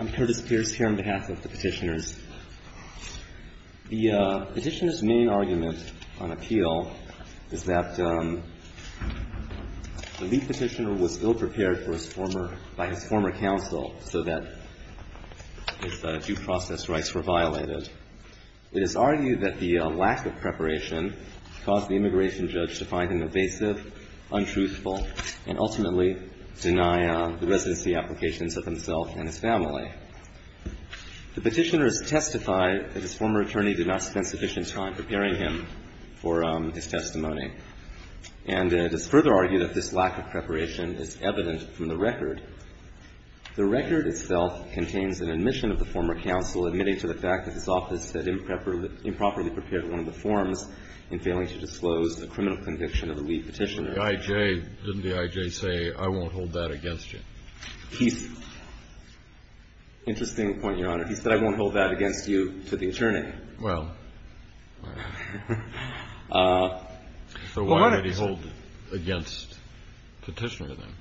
I'm Curtis Pierce here on behalf of the petitioners. The petitioner's main argument on appeal is that the lead petitioner was ill-prepared by his former counsel so that his due process rights were violated. It is argued that the lack of preparation caused the immigration judge to find him evasive, untruthful, and ultimately deny the residency applications of himself and his family. The petitioners testify that his former attorney did not spend sufficient time preparing him for his testimony. And it is further argued that this lack of preparation is evident from the record. The record itself contains an admission of the former counsel admitting to the fact that his office had improperly prepared one of the forms in failing to disclose a criminal conviction of the lead petitioner. The I.J. Didn't the I.J. say, I won't hold that against you? He's – interesting point, Your Honor. He said, I won't hold that against you to the attorney. Well, so why would he hold it against the petitioner, then?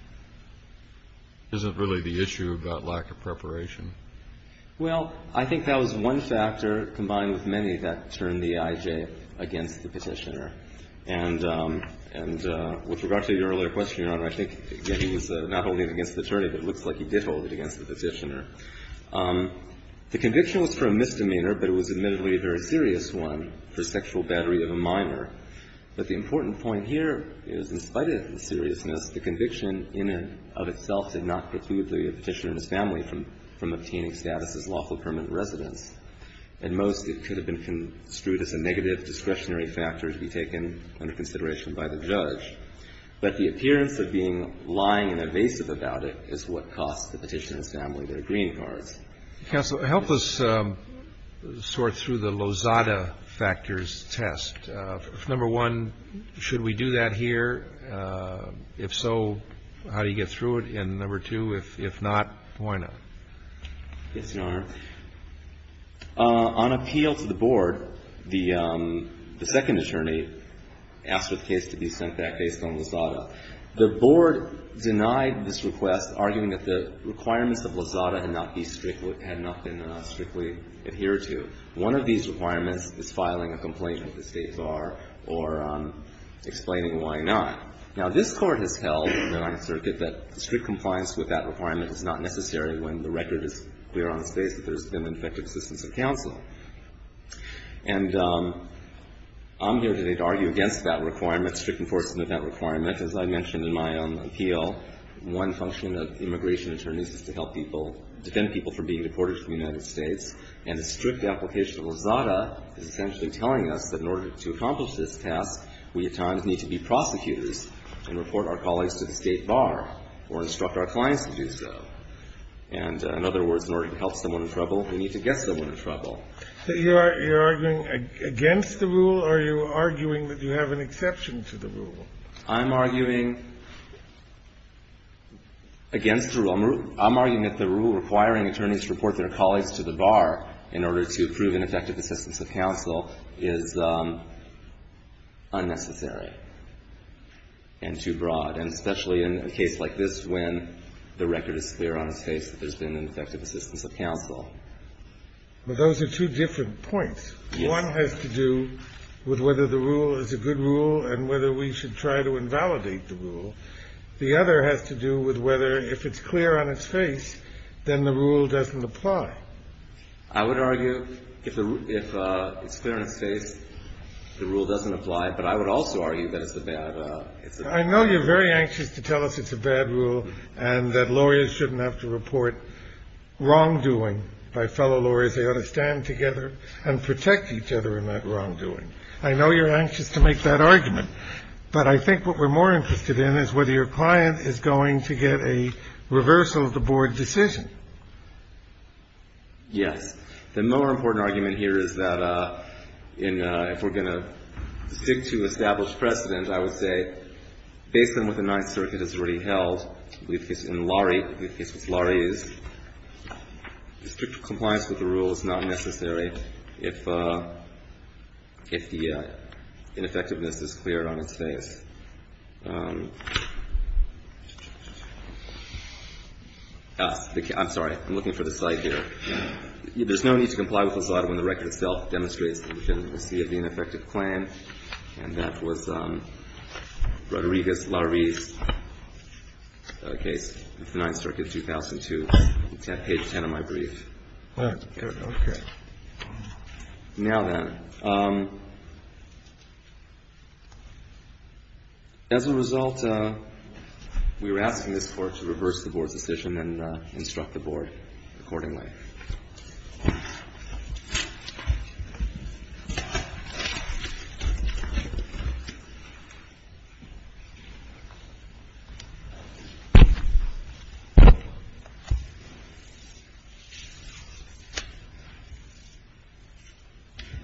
Isn't really the issue about lack of preparation. Well, I think that was one factor combined with many that turned the I.J. against the petitioner. And with regard to your earlier question, Your Honor, I think, again, he was not holding it against the attorney, but it looks like he did hold it against the petitioner. The conviction was for a misdemeanor, but it was admittedly a very serious one for sexual battery of a minor. But the important point here is, in spite of the seriousness, the conviction in and of itself did not preclude the petitioner and his family from obtaining status as lawful permanent residents. At most, it could have been construed as a negative discretionary factor to be taken under consideration by the judge. But the appearance of being lying and evasive about it is what cost the petitioner and his family their green cards. Counsel, help us sort through the Lozada factors test. Number one, should we do that here? If so, how do you get through it? And number two, if not, why not? Yes, Your Honor. On appeal to the board, the second attorney asked for the case to be sent back based on Lozada. The board denied this request, arguing that the requirements of Lozada had not been strictly adhered to. One of these requirements is filing a complaint with the State Bar or explaining why not. Now, this Court has held in the Ninth Circuit that strict compliance with that requirement is not necessary when the record is clear on its face that there's been an effective assistance of counsel. And I'm here today to argue against that requirement, strict enforcement of that requirement as I mentioned in my own appeal. One function of immigration attorneys is to help people, defend people from being deported from the United States. And the strict application of Lozada is essentially telling us that in order to accomplish this task, we at times need to be prosecutors and report our colleagues to the State Bar or instruct our clients to do so. And in other words, in order to help someone in trouble, we need to get someone in trouble. So you're arguing against the rule, or are you arguing that you have an exception to the rule? I'm arguing against the rule. I'm arguing that the rule requiring attorneys to report their colleagues to the Bar in order to prove an effective assistance of counsel is unnecessary and too broad, and especially in a case like this when the record is clear on its face that there's been an effective assistance of counsel. Well, those are two different points. One has to do with whether the rule is a good rule and whether we should try to invalidate the rule. The other has to do with whether if it's clear on its face, then the rule doesn't apply. I would argue if it's clear on its face, the rule doesn't apply, but I would also argue that it's a bad rule. I know you're very anxious to tell us it's a bad rule and that lawyers shouldn't have to report wrongdoing by fellow lawyers. They ought to stand together and protect each other in that wrongdoing. I know you're anxious to make that argument, but I think what we're more interested in is whether your client is going to get a reversal of the board decision. Yes. The more important argument here is that if we're going to stick to established precedent, I would say, based on what the Ninth Circuit has already held, in Laurie case, the strict compliance with the rule is not necessary if the ineffectiveness is clear on its face. I'm sorry. I'm looking for the slide here. There's no need to comply with LASADA when the record itself demonstrates that we can receive the ineffective claim, and that was Rodriguez-Laurie's case. The Ninth Circuit, 2002, page 10 of my brief. All right. Good. Okay. Now then, as a result, we were asking this Court to reverse the board's decision and instruct the board accordingly.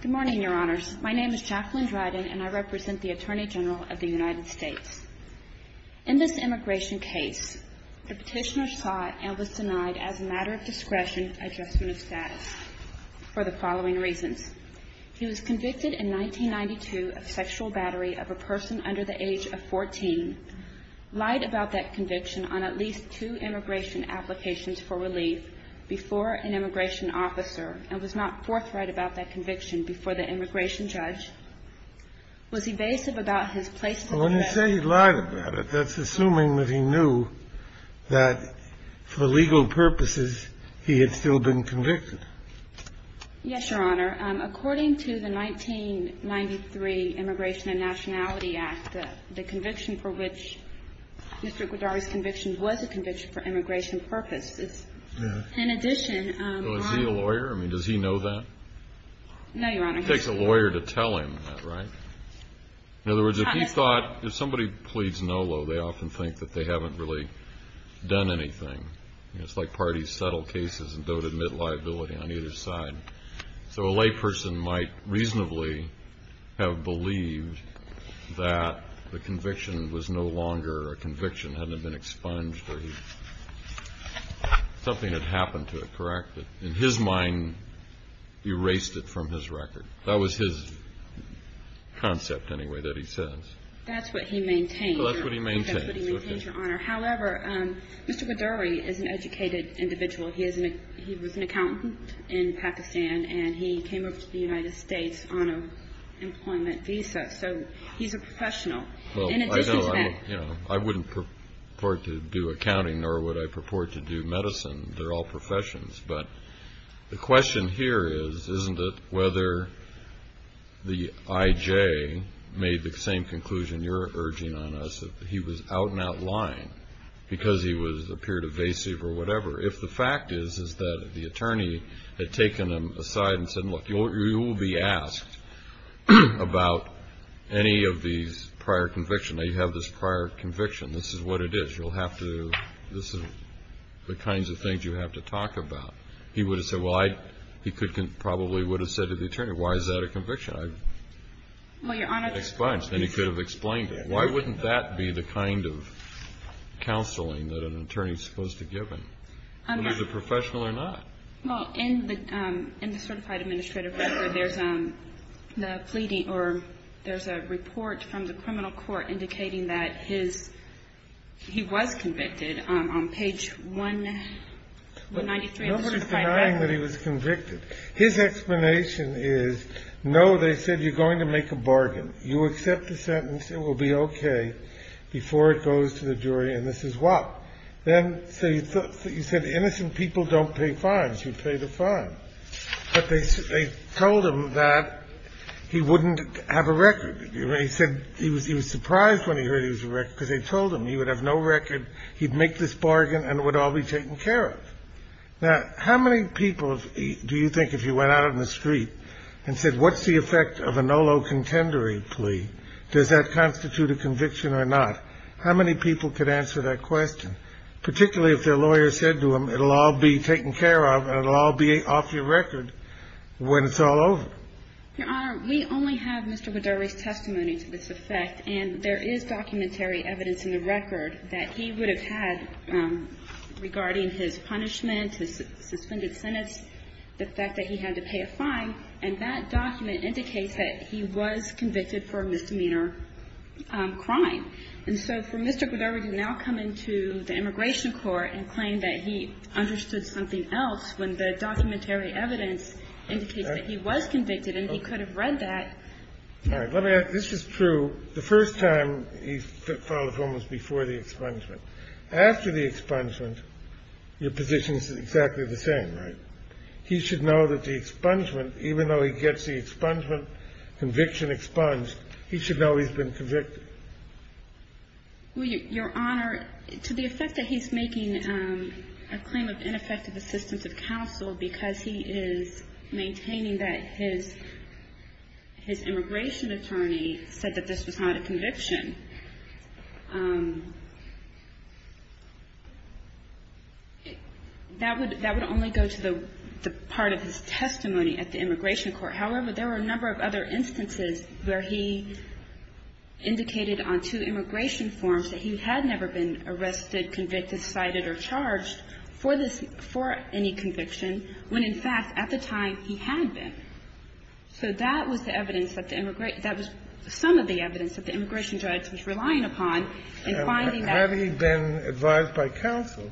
Good morning, Your Honors. My name is Jacqueline Dryden, and I represent the Attorney General of the United States. In this immigration case, the petitioner sought and was denied, as a matter of discretion, adjustment of status for the following reasons. He was convicted in 1992 of sexual battery of a person under the age of 14, lied about that conviction on at least two immigration applications for relief before an immigration officer, and was not forthright about that conviction before the immigration judge. Was evasive about his place to the judge. When you say he lied about it, that's assuming that he knew that for legal purposes he had still been convicted. Yes, Your Honor. According to the 1993 Immigration and Nationality Act, the conviction for which Mr. Goddard's conviction was a conviction for immigration purposes. Yeah. In addition, Your Honor. Was he a lawyer? I mean, does he know that? No, Your Honor. It takes a lawyer to tell him that, right? In other words, if he thought, if somebody pleads no, though, they often think that they haven't really done anything. It's like parties settle cases and don't admit liability on either side. So a layperson might reasonably have believed that the conviction was no longer a conviction, hadn't been expunged, or something had happened to it, correct? But in his mind, erased it from his record. That was his concept, anyway, that he says. That's what he maintains. That's what he maintains. That's what he maintains, Your Honor. However, Mr. Goddard is an educated individual. He was an accountant in Pakistan, and he came over to the United States on an employment visa. So he's a professional. In addition to that. I wouldn't purport to do accounting, nor would I purport to do medicine. They're all professions. But the question here is, isn't it whether the I.J. made the same conclusion you're urging on us, that he was out and out lying because he appeared evasive or whatever, if the fact is that the attorney had taken him aside and said, look, you'll be asked about any of these prior convictions. Now, you have this prior conviction. This is what it is. This is the kinds of things you have to talk about. He would have said, well, he probably would have said to the attorney, why is that a conviction? Well, Your Honor. And he could have explained it. Why wouldn't that be the kind of counseling that an attorney is supposed to give him? He's a professional or not. Well, in the certified administrative record, there's a pleading or there's a report from the criminal court indicating that he was convicted on page 193 of the certified record. No one's denying that he was convicted. His explanation is, no, they said you're going to make a bargain. You accept the sentence. It will be OK before it goes to the jury. And this is why. Then you said innocent people don't pay fines. You pay the fine. But they told him that he wouldn't have a record. He said he was surprised when he heard he was a wreck because they told him he would have no record. He'd make this bargain and it would all be taken care of. Now, how many people do you think if you went out on the street and said, what's the effect of a NOLO contendery plea? Does that constitute a conviction or not? How many people could answer that question, particularly if their lawyer said to them it'll all be taken care of and it'll all be off your record when it's all over? Your Honor, we only have Mr. Goddard's testimony to this effect, and there is documentary evidence in the record that he would have had regarding his punishment, his suspended sentence, the fact that he had to pay a fine. And that document indicates that he was convicted for a misdemeanor crime. And so for Mr. Goddard to now come into the immigration court and claim that he understood something else when the documentary evidence indicates that he was convicted and he could have read that. All right. Let me ask. This is true. The first time he filed a form was before the expungement. After the expungement, your position is exactly the same, right? He should know that the expungement, even though he gets the expungement, conviction expunged, he should know he's been convicted. Your Honor, to the effect that he's making a claim of ineffective assistance of counsel because he is maintaining that his immigration attorney said that this was not a conviction, that would only go to the part of his testimony at the immigration court. However, there were a number of other instances where he indicated on two immigration forms that he had never been arrested, convicted, cited, or charged for this – for any conviction when, in fact, at the time, he had been. So that was the evidence that the – that was some of the evidence that the immigration judge was relying upon in finding that. And had he been advised by counsel,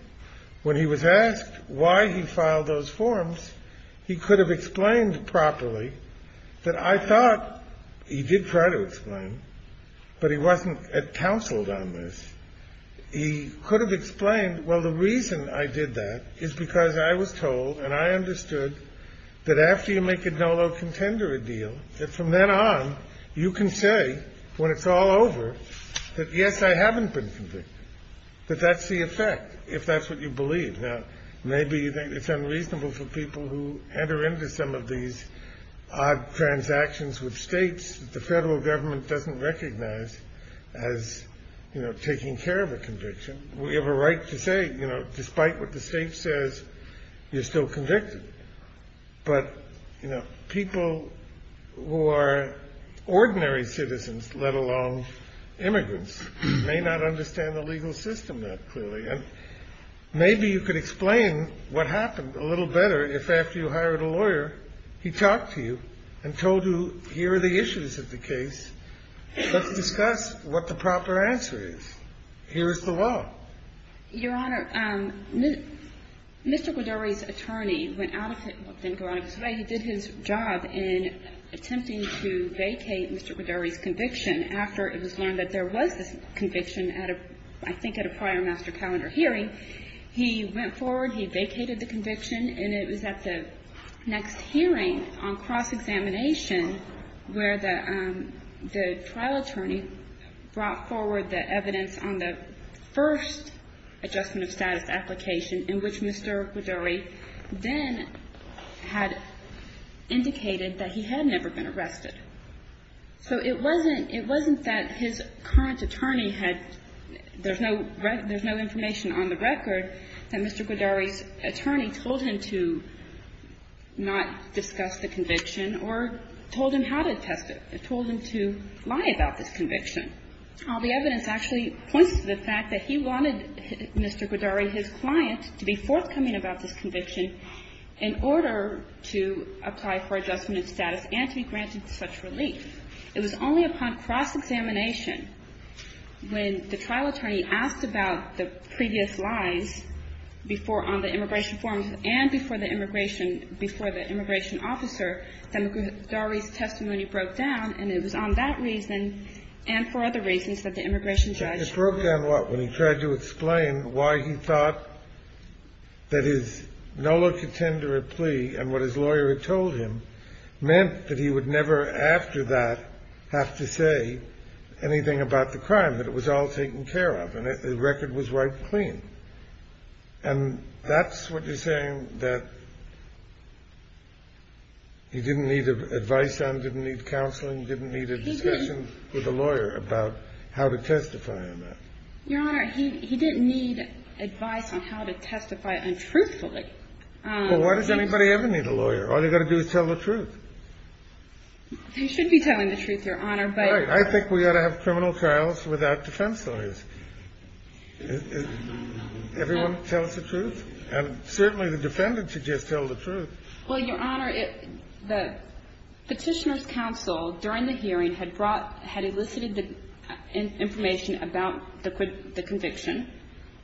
when he was asked why he filed those forms, he could have explained properly that I thought he did try to explain, but he wasn't counseled on this. He could have explained, well, the reason I did that is because I was told and I understood that after you make a NOLO contender a deal, that from then on, you can say when it's all over that, yes, I haven't been convicted, that that's the effect, if that's what you believe. Now, maybe you think it's unreasonable for people who enter into some of these odd transactions with states that the federal government doesn't recognize as, you know, taking care of a conviction. We have a right to say, you know, despite what the state says, you're still convicted. But, you know, people who are ordinary citizens, let alone immigrants, may not understand the legal system that clearly. And maybe you could explain what happened a little better if after you hired a lawyer, he talked to you and told you, here are the issues of the case. Let's discuss what the proper answer is. Here is the law. Your Honor, Mr. Goddard's attorney went out of his way. He did his job in attempting to vacate Mr. Goddard's conviction after it was learned that there was this conviction at a, I think at a prior master calendar hearing. He went forward. He vacated the conviction. And it was at the next hearing on cross-examination where the trial attorney brought forward the evidence on the first adjustment of status application in which Mr. Goddard then had indicated that he had never been arrested. So it wasn't that his current attorney had – there's no information on the record that Mr. Goddard's attorney told him to not discuss the conviction or told him how to test it. It told him to lie about this conviction. The evidence actually points to the fact that he wanted Mr. Goddard, his client, to be forthcoming about this conviction in order to apply for adjustment of status and to be granted such relief. It was only upon cross-examination when the trial attorney asked about the previous lies before on the immigration forms and before the immigration – before the immigration judge. It broke down what? When he tried to explain why he thought that his null or contender plea and what his lawyer had told him meant that he would never after that have to say anything about the crime, that it was all taken care of and the record was wiped clean. And that's what you're saying, that he didn't need advice on, didn't need counseling, didn't need a discussion with a lawyer about how to testify on that? Your Honor, he didn't need advice on how to testify untruthfully. Well, why does anybody ever need a lawyer? All they've got to do is tell the truth. They should be telling the truth, Your Honor, but – I think we ought to have criminal trials without defense lawyers. Everyone tell us the truth. And certainly the defendant should just tell the truth. Well, Your Honor, the Petitioner's Counsel during the hearing had brought – had elicited the information about the conviction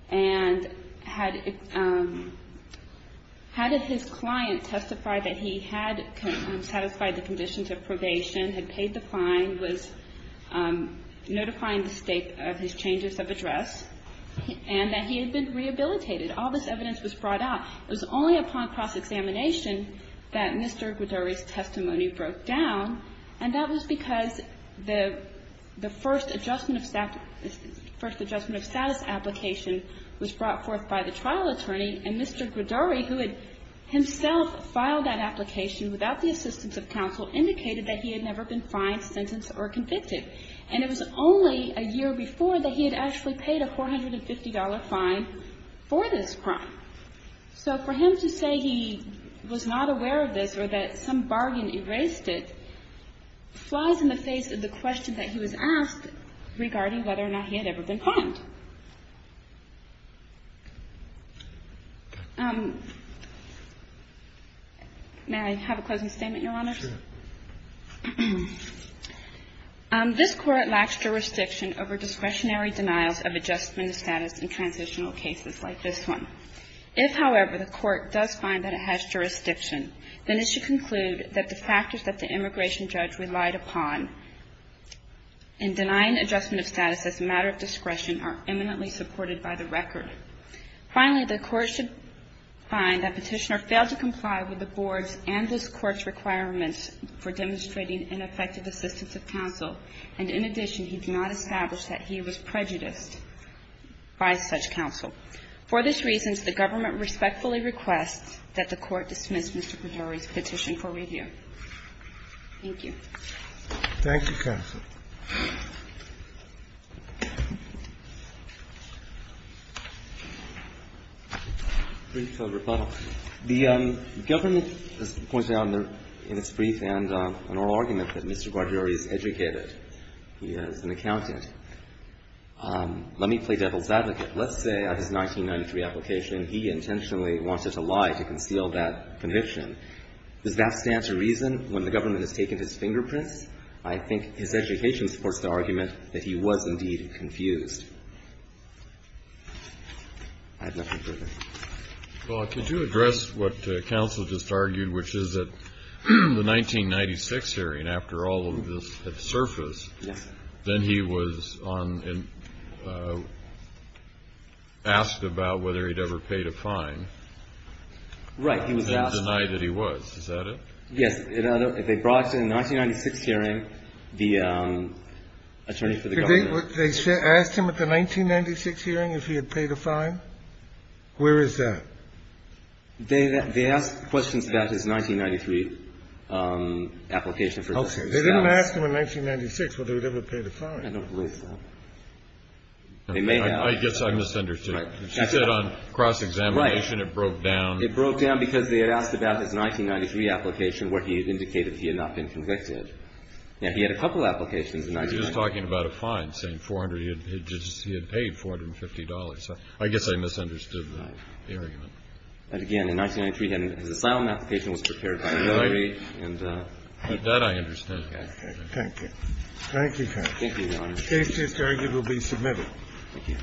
and had – had his client testify that he had satisfied the conditions of probation, had paid the fine, was notifying the State of his changes of address, and that he had been rehabilitated. All this evidence was brought out. It was only upon cross-examination that Mr. Gridori's testimony broke down, and that was because the first adjustment of – first adjustment of status application was brought forth by the trial attorney, and Mr. Gridori, who had himself filed that application without the assistance of counsel, indicated that he had never been fined, sentenced, or convicted. And it was only a year before that he had actually paid a $450 fine for this crime. So for him to say he was not aware of this or that some bargain erased it flies in the face of the question that he was asked regarding whether or not he had ever been fined. May I have a closing statement, Your Honors? Sure. This Court lacks jurisdiction over discretionary denials of adjustment of status in transitional cases like this one. If, however, the Court does find that it has jurisdiction, then it should conclude that the factors that the immigration judge relied upon in denying adjustment of status as a matter of discretion are eminently supported by the record. Finally, the Court should find that Petitioner failed to comply with the Board's And in addition, he did not establish that he was prejudiced by such counsel. For these reasons, the Government respectfully requests that the Court dismiss Mr. Gridori's petition for review. Thank you. Thank you, counsel. Brief rebuttal. The Government has pointed out in its brief and oral argument that Mr. Gridori is educated. He is an accountant. Let me play devil's advocate. Let's say on his 1993 application he intentionally wanted to lie to conceal that conviction. Does that stand to reason when the Government has taken his fingerprints? I think his education supports the argument that he was indeed confused. I have nothing further. Well, could you address what counsel just argued, which is that the 1996 hearing, after all of this had surfaced, then he was on and asked about whether he'd ever paid a fine? Right. He was asked. And denied that he was. Is that it? Yes. They brought to the 1996 hearing the attorney for the Government. They asked him at the 1996 hearing if he had paid a fine? Where is that? They asked questions about his 1993 application. Okay. They didn't ask him in 1996 whether he'd ever paid a fine. I don't believe so. They may have. I guess I misunderstood. She said on cross-examination it broke down. It broke down because they had asked about his 1993 application where he had indicated he had not been convicted. Now, he had a couple of applications. He was talking about a fine, saying he had paid $450. I guess I misunderstood the argument. And again, in 1993, his asylum application was prepared by the military. Right. And that I understand. Okay. Thank you. Thank you, Your Honor. Thank you, Your Honor. The case is arguably submitted. Thank you.